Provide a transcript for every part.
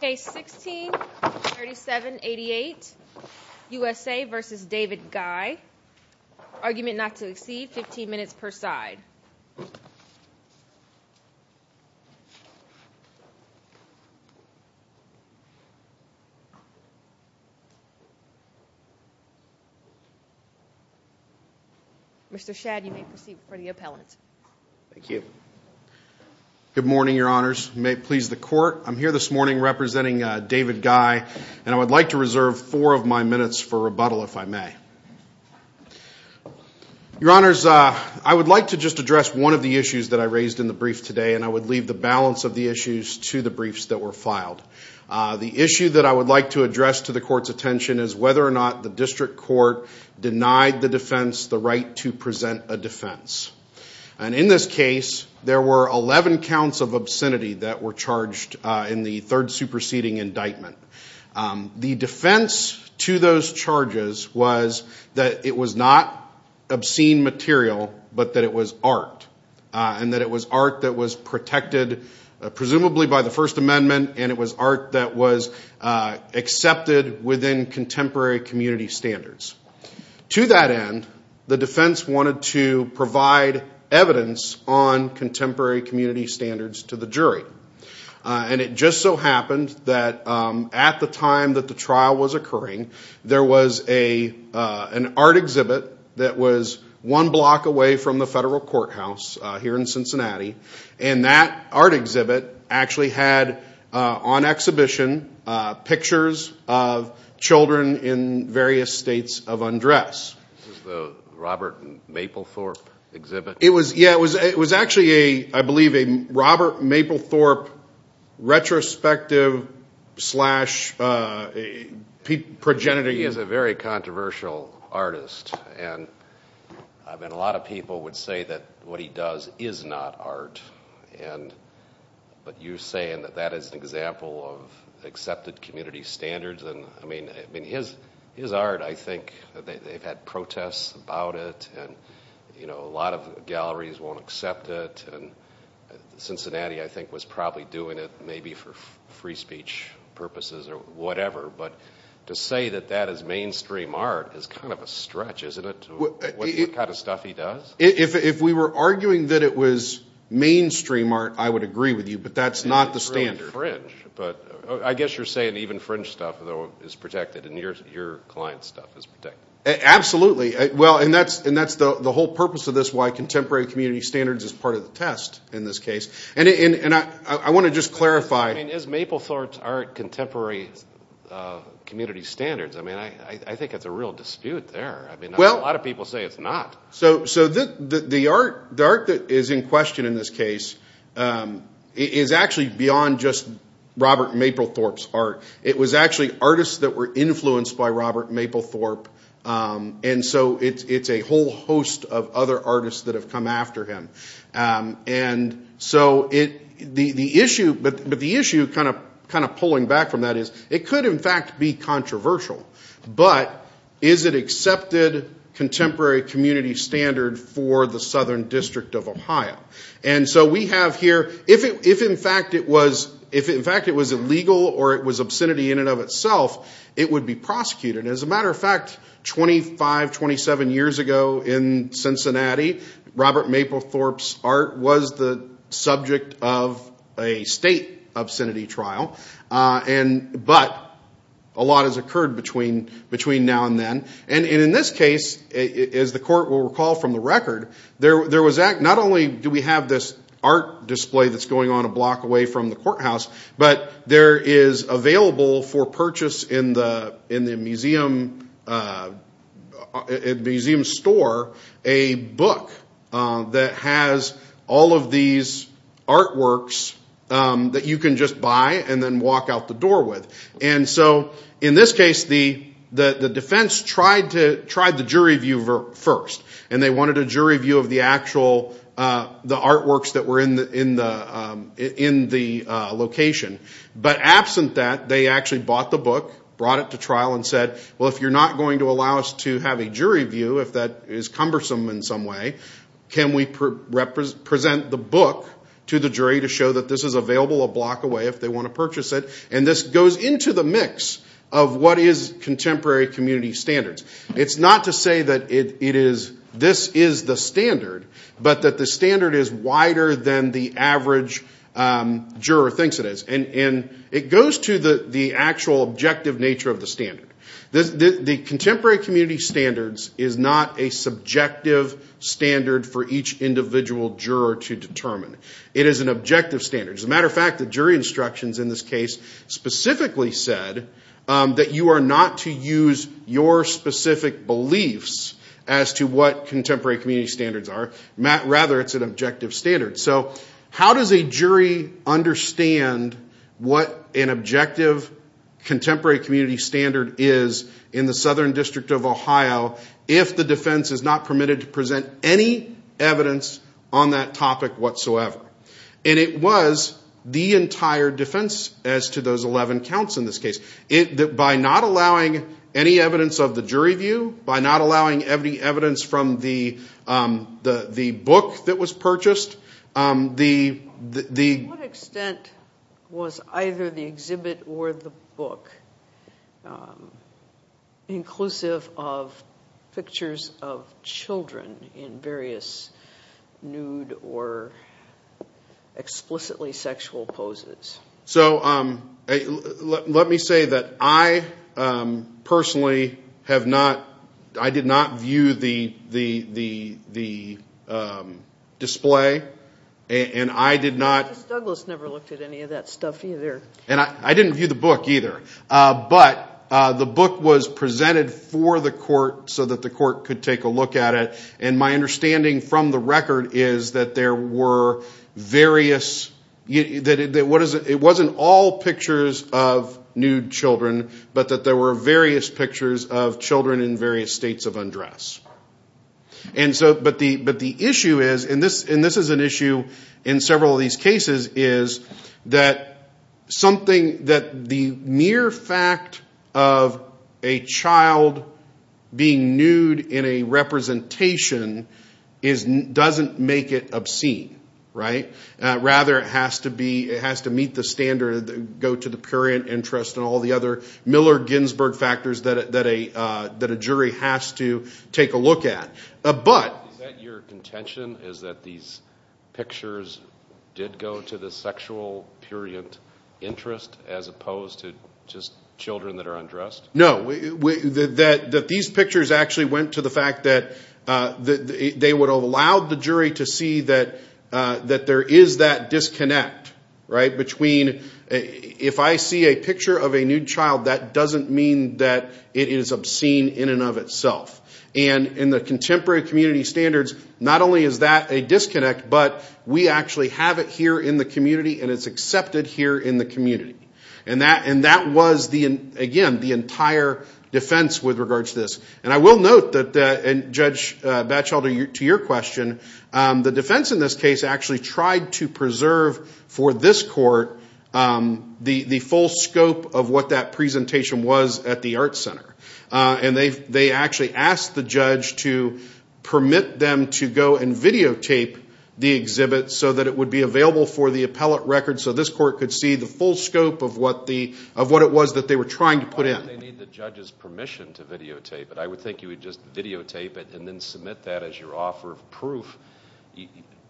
Case 16-3788, USA v. David Guy. Argument not to exceed 15 minutes per side. Mr. Shad, you may proceed before the appellant. Thank you. Good morning, your honors. You may please the court. I'm here this morning representing David Guy, and I would like to reserve four of my minutes for rebuttal, if I may. Your honors, I would like to just address one of the issues that I raised in the brief today, and I would leave the balance of the issues to the briefs that were filed. The issue that I would like to address to the court's attention is whether or not the district court denied the defense the right to present a defense. And in this case, there were 11 counts of obscenity that were charged in the third superseding indictment. The defense to those charges was that it was not obscene material, but that it was art, and that it was art that was protected presumably by the First Amendment, and it was art that was accepted within contemporary community standards. To that end, the defense wanted to provide evidence on contemporary community standards to the jury. And it just so happened that at the time that the trial was occurring, there was an art exhibit that was one block away from the federal courthouse here in Cincinnati, and that art exhibit actually had on exhibition pictures of children in various states of undress. This is the Robert Mapplethorpe exhibit? Yeah, it was actually, I believe, a Robert Mapplethorpe retrospective slash progenitor. He is a very controversial artist, and a lot of people would say that what he does is not art. But you're saying that that is an example of accepted community standards. I mean, his art, I think, they've had protests about it, and a lot of galleries won't accept it. Cincinnati, I think, was probably doing it maybe for free speech purposes or whatever. But to say that that is mainstream art is kind of a stretch, isn't it, to what kind of stuff he does? If we were arguing that it was mainstream art, I would agree with you, but that's not the standard. It's really fringe, but I guess you're saying even fringe stuff, though, is protected, and your client stuff is protected. Absolutely. Well, and that's the whole purpose of this, why contemporary community standards is part of the test in this case. And I want to just clarify. I mean, is Mapplethorpe's art contemporary community standards? I mean, I think it's a real dispute there. I mean, a lot of people say it's not. So the art that is in question in this case is actually beyond just Robert Mapplethorpe's art. It was actually artists that were influenced by Robert Mapplethorpe, and so it's a whole host of other artists that have come after him. And so the issue, kind of pulling back from that, is it could in fact be controversial, but is it accepted contemporary community standard for the Southern District of Ohio? And so we have here, if in fact it was illegal or it was obscenity in and of itself, it would be prosecuted. And as a matter of fact, 25, 27 years ago in Cincinnati, Robert Mapplethorpe's art was the subject of a state obscenity trial, but a lot has occurred between now and then. And in this case, as the court will recall from the record, not only do we have this art display that's going on a block away from the courthouse, but there is available for purchase in the museum store a book that has all of these artworks that you can just buy and then walk out the door with. And so in this case, the defense tried the jury view first, and they wanted a jury view of the actual artworks that were in the location. But absent that, they actually bought the book, brought it to trial, and said, well, if you're not going to allow us to have a jury view, if that is cumbersome in some way, can we present the book to the jury to show that this is available a block away if they want to purchase it? And this goes into the mix of what is contemporary community standards. It's not to say that this is the standard, but that the standard is wider than the average juror thinks it is. And it goes to the actual objective nature of the standard. The contemporary community standards is not a subjective standard for each individual juror to determine. It is an objective standard. As a matter of fact, the jury instructions in this case specifically said that you are not to use your specific beliefs as to what contemporary community standards are. Rather, it's an objective standard. So how does a jury understand what an objective contemporary community standard is in the Southern District of Ohio if the defense is not permitted to present any evidence on that topic whatsoever? And it was the entire defense as to those 11 counts in this case. By not allowing any evidence of the jury view, by not allowing any evidence from the book that was purchased, the... To what extent was either the exhibit or the book inclusive of pictures of children in various nude or explicitly sexual poses? So let me say that I personally have not, I did not view the display, and I did not... Justice Douglas never looked at any of that stuff either. And I didn't view the book either. But the book was presented for the court so that the court could take a look at it. And my understanding from the record is that there were various... It wasn't all pictures of nude children, but that there were various pictures of children in various states of undress. But the issue is, and this is an issue in several of these cases, is that something that the mere fact of a child being nude in a representation doesn't make it obscene. Rather, it has to meet the standard, go to the purient interest and all the other Miller-Ginsberg factors that a jury has to take a look at. But... Is that your contention, is that these pictures did go to the sexual purient interest as opposed to just children that are undressed? No. That these pictures actually went to the fact that they would have allowed the jury to see that there is that disconnect between... If I see a picture of a nude child, that doesn't mean that it is obscene in and of itself. And in the contemporary community standards, not only is that a disconnect, but we actually have it here in the community, and it's accepted here in the community. And that was, again, the entire defense with regards to this. And I will note that, Judge Batchelder, to your question, the defense in this case actually tried to preserve for this court the full scope of what that presentation was at the Arts Center. And they actually asked the judge to permit them to go and videotape the exhibit so that it would be available for the appellate record, so this court could see the full scope of what it was that they were trying to put in. Why would they need the judge's permission to videotape it? I would think you would just videotape it and then submit that as your offer of proof.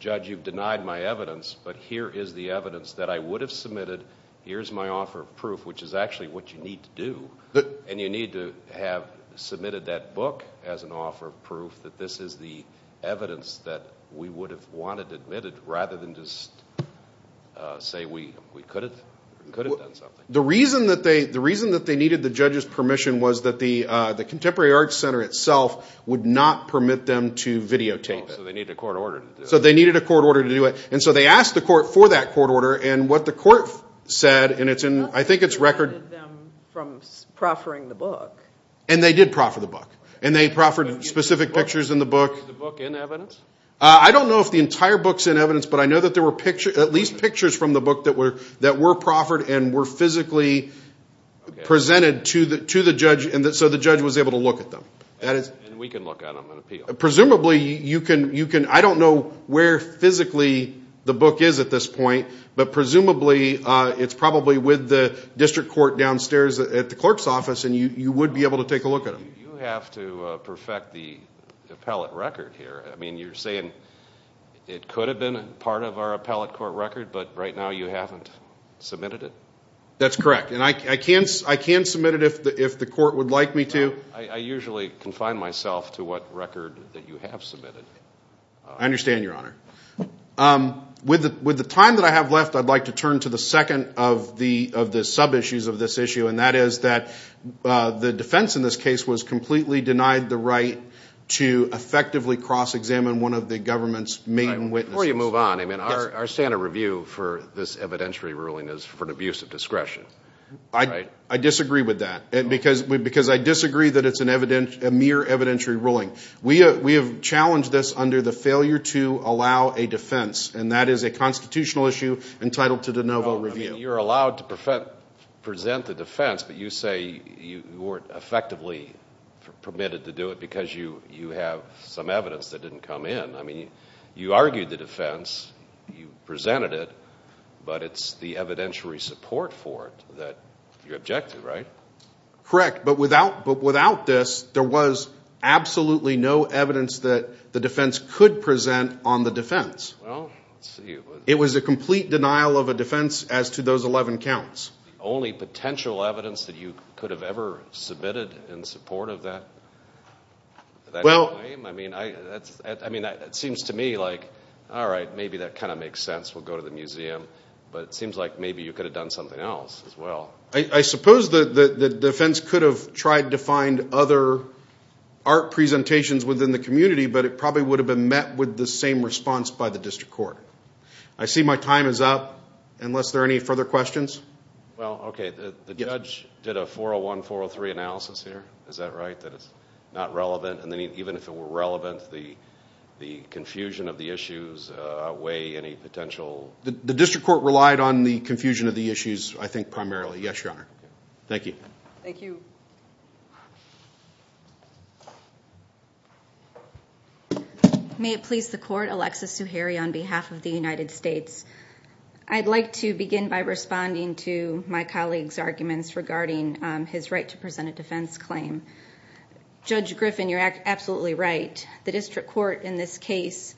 Judge, you've denied my evidence, but here is the evidence that I would have submitted. Here is my offer of proof, which is actually what you need to do. And you need to have submitted that book as an offer of proof that this is the evidence that we would have wanted admitted rather than just say we could have done something. The reason that they needed the judge's permission was that the Contemporary Arts Center itself would not permit them to videotape it. So they needed a court order to do it. So they needed a court order to do it. And so they asked the court for that court order, and what the court said, and I think it's record. What prevented them from proffering the book? And they did proffer the book. And they proffered specific pictures in the book. Was the book in evidence? I don't know if the entire book is in evidence, but I know that there were at least pictures from the book that were proffered and were physically presented to the judge, and so the judge was able to look at them. And we can look at them and appeal. I don't know where physically the book is at this point, but presumably it's probably with the district court downstairs at the clerk's office, and you would be able to take a look at them. You have to perfect the appellate record here. I mean, you're saying it could have been part of our appellate court record, but right now you haven't submitted it? That's correct, and I can submit it if the court would like me to. I usually confine myself to what record that you have submitted. I understand, Your Honor. With the time that I have left, I'd like to turn to the second of the sub-issues of this issue, and that is that the defense in this case was completely denied the right to effectively cross-examine one of the government's main witnesses. Before you move on, I mean, our standard review for this evidentiary ruling is for an abuse of discretion, right? I disagree with that because I disagree that it's a mere evidentiary ruling. We have challenged this under the failure to allow a defense, and that is a constitutional issue entitled to de novo review. Well, I mean, you're allowed to present the defense, but you say you weren't effectively permitted to do it because you have some evidence that didn't come in. I mean, you argued the defense, you presented it, but it's the evidentiary support for it that you object to, right? Correct, but without this, there was absolutely no evidence that the defense could present on the defense. Well, let's see. It was a complete denial of a defense as to those 11 counts. The only potential evidence that you could have ever submitted in support of that claim? I mean, that seems to me like, all right, maybe that kind of makes sense. We'll go to the museum. But it seems like maybe you could have done something else as well. I suppose the defense could have tried to find other art presentations within the community, but it probably would have been met with the same response by the district court. I see my time is up, unless there are any further questions. Well, okay, the judge did a 401-403 analysis here. Is that right, that it's not relevant? And then even if it were relevant, the confusion of the issues outweigh any potential? The district court relied on the confusion of the issues, I think, primarily. Yes, Your Honor. Thank you. Thank you. May it please the Court, Alexis Zuhairi on behalf of the United States. I'd like to begin by responding to my colleague's arguments regarding his right to present a defense claim. Judge Griffin, you're absolutely right. The district court in this case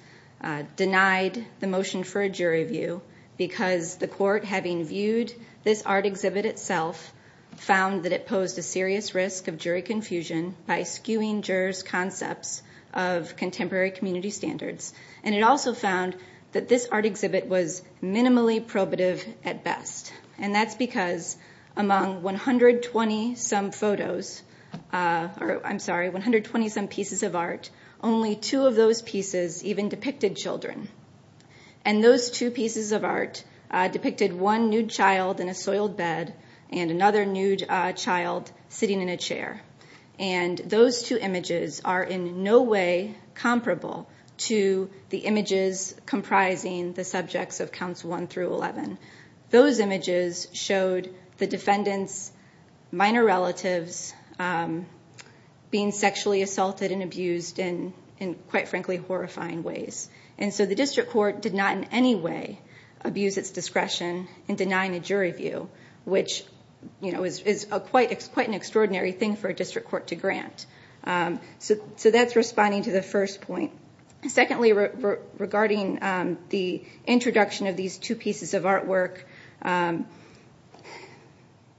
denied the motion for a jury view because the court, having viewed this art exhibit itself, found that it posed a serious risk of jury confusion by skewing jurors' concepts of contemporary community standards. And it also found that this art exhibit was minimally probative at best. And that's because among 120-some photos, I'm sorry, 120-some pieces of art, only two of those pieces even depicted children. And those two pieces of art depicted one nude child in a soiled bed and another nude child sitting in a chair. And those two images are in no way comparable to the images comprising the subjects of counts 1 through 11. Those images showed the defendant's minor relatives being sexually assaulted and abused in, quite frankly, horrifying ways. And so the district court did not in any way abuse its discretion in denying a jury view, which is quite an extraordinary thing for a district court to grant. So that's responding to the first point. Secondly, regarding the introduction of these two pieces of artwork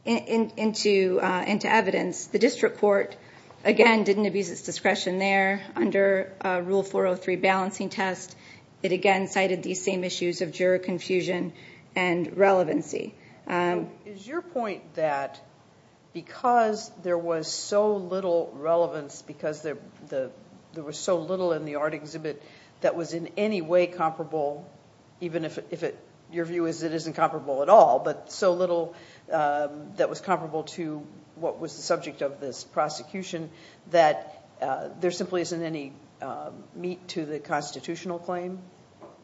into evidence, the district court, again, didn't abuse its discretion there under Rule 403 balancing test. It again cited these same issues of juror confusion and relevancy. Is your point that because there was so little relevance, because there was so little in the art exhibit that was in any way comparable, even if your view is it isn't comparable at all, but so little that was comparable to what was the subject of this prosecution, that there simply isn't any meat to the constitutional claim?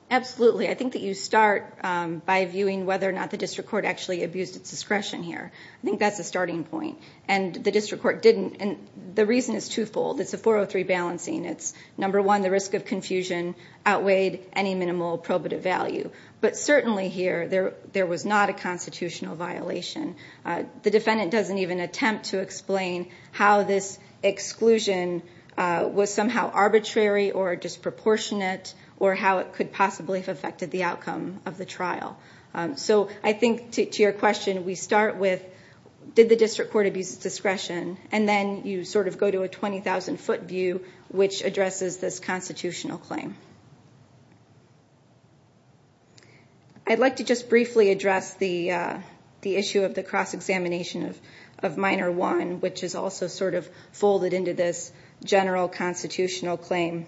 Absolutely. I think that you start by viewing whether or not the district court actually abused its discretion here. I think that's a starting point. And the district court didn't, and the reason is twofold. It's a 403 balancing. It's, number one, the risk of confusion outweighed any minimal probative value. But certainly here there was not a constitutional violation. The defendant doesn't even attempt to explain how this exclusion was somehow arbitrary or disproportionate or how it could possibly have affected the outcome of the trial. So I think, to your question, we start with did the district court abuse its discretion, and then you sort of go to a 20,000-foot view, which addresses this constitutional claim. I'd like to just briefly address the issue of the cross-examination of Minor I, which is also sort of folded into this general constitutional claim.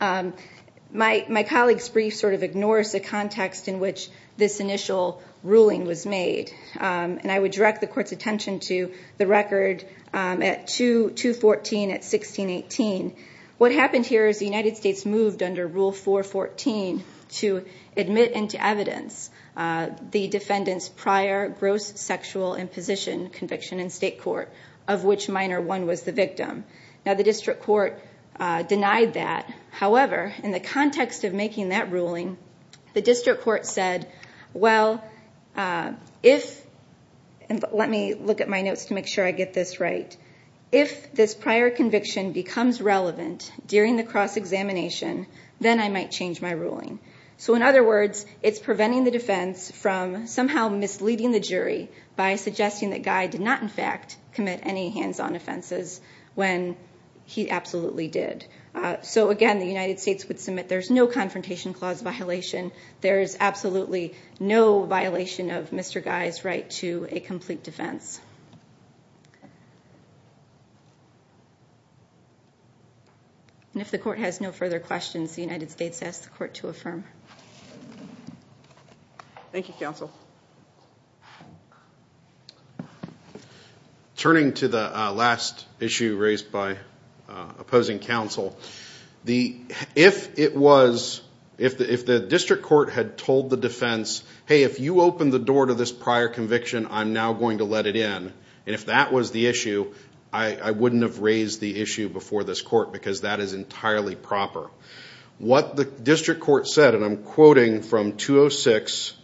My colleague's brief sort of ignores the context in which this initial ruling was made, and I would direct the Court's attention to the record at 214 at 1618. What happened here is the United States moved under Rule 414 to admit into evidence the defendant's prior gross sexual imposition conviction in state court, of which Minor I was the victim. Now the district court denied that. However, in the context of making that ruling, the district court said, well, if, and let me look at my notes to make sure I get this right, if this prior conviction becomes relevant during the cross-examination, then I might change my ruling. So in other words, it's preventing the defense from somehow misleading the jury by suggesting that Guy did not, in fact, commit any hands-on offenses when he absolutely did. So again, the United States would submit there's no confrontation clause violation. There is absolutely no violation of Mr. Guy's right to a complete defense. And if the Court has no further questions, the United States asks the Court to affirm. Thank you, counsel. Turning to the last issue raised by opposing counsel, if it was, if the district court had told the defense, hey, if you open the door to this prior conviction, I'm now going to let it in, and if that was the issue, I wouldn't have raised the issue before this court because that is entirely proper. What the district court said, and I'm quoting from 206,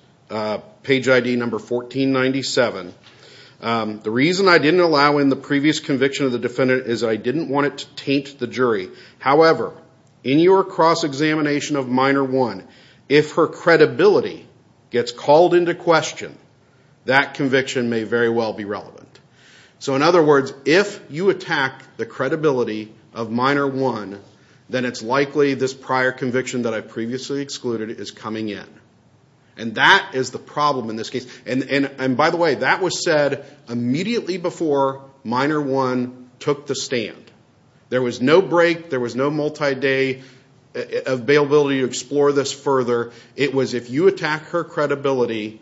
page ID number 1497, the reason I didn't allow in the previous conviction of the defendant is I didn't want it to taint the jury. However, in your cross-examination of minor one, if her credibility gets called into question, that conviction may very well be relevant. So in other words, if you attack the credibility of minor one, then it's likely this prior conviction that I previously excluded is coming in. And that is the problem in this case. And by the way, that was said immediately before minor one took the stand. There was no break. There was no multi-day availability to explore this further. It was if you attack her credibility,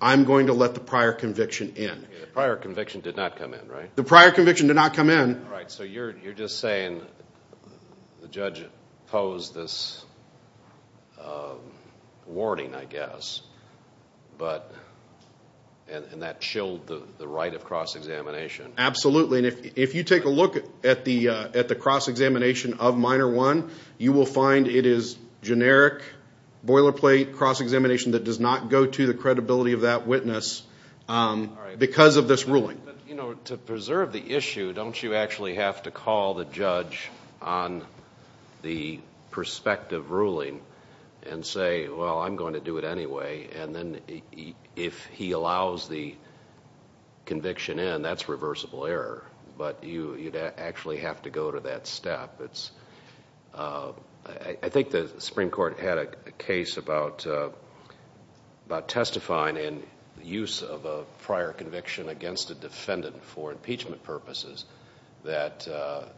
I'm going to let the prior conviction in. The prior conviction did not come in, right? The prior conviction did not come in. All right, so you're just saying the judge posed this warning, I guess, and that chilled the right of cross-examination. Absolutely, and if you take a look at the cross-examination of minor one, you will find it is generic, boilerplate cross-examination that does not go to the credibility of that witness because of this ruling. You know, to preserve the issue, don't you actually have to call the judge on the prospective ruling and say, well, I'm going to do it anyway? And then if he allows the conviction in, that's reversible error. But you'd actually have to go to that step. I think the Supreme Court had a case about testifying in the use of a prior conviction against a defendant for impeachment purposes. The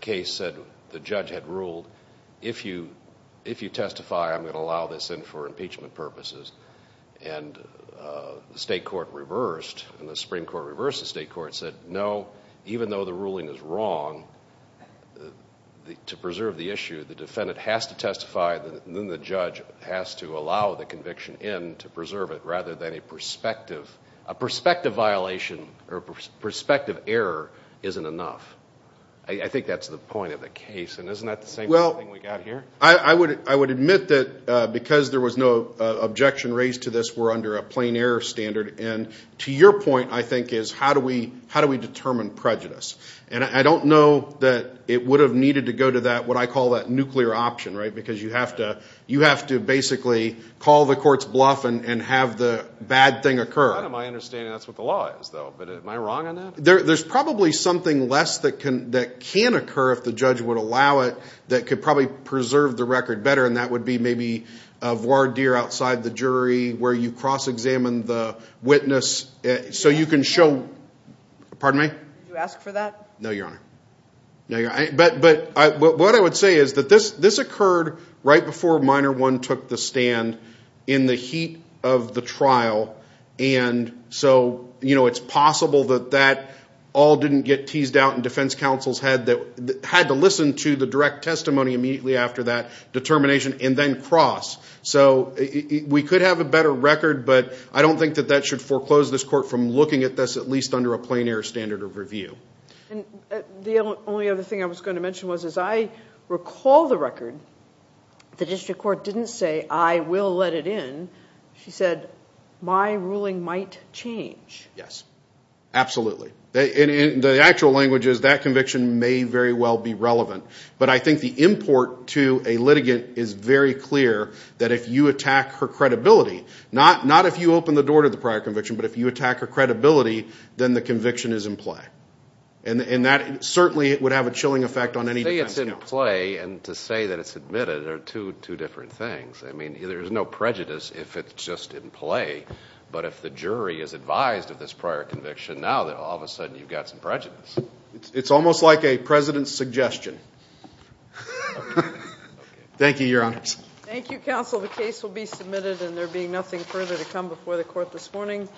case said the judge had ruled, if you testify, I'm going to allow this in for impeachment purposes. And the Supreme Court reversed the state court and said, no, even though the ruling is wrong, to preserve the issue, the defendant has to testify and then the judge has to allow the conviction in to preserve it rather than a prospective violation or prospective error isn't enough. I think that's the point of the case. And isn't that the same thing we've got here? I would admit that because there was no objection raised to this, we're under a plain error standard. And to your point, I think, is how do we determine prejudice? And I don't know that it would have needed to go to that, what I call that nuclear option, right, because you have to basically call the court's bluff and have the bad thing occur. To my understanding, that's what the law is, though. But am I wrong on that? There's probably something less that can occur if the judge would allow it that could probably preserve the record better, and that would be maybe a voir dire outside the jury where you cross-examine the witness so you can show. Pardon me? Did you ask for that? No, Your Honor. But what I would say is that this occurred right before Minor I took the stand in the heat of the trial, and so it's possible that that all didn't get teased out and defense counsels had to listen to the direct testimony immediately after that determination and then cross. So we could have a better record, but I don't think that that should foreclose this court from looking at this at least under a plein air standard of review. And the only other thing I was going to mention was, as I recall the record, the district court didn't say, I will let it in. She said, My ruling might change. Yes, absolutely. In the actual languages, that conviction may very well be relevant. But I think the import to a litigant is very clear that if you attack her credibility, not if you open the door to the prior conviction, but if you attack her credibility, then the conviction is in play. And that certainly would have a chilling effect on any defense counsel. To say it's in play and to say that it's admitted are two different things. I mean, there's no prejudice if it's just in play. But if the jury is advised of this prior conviction, now all of a sudden you've got some prejudice. It's almost like a president's suggestion. Thank you, Your Honors. Thank you, counsel. The case will be submitted, and there being nothing further to come before the court this morning.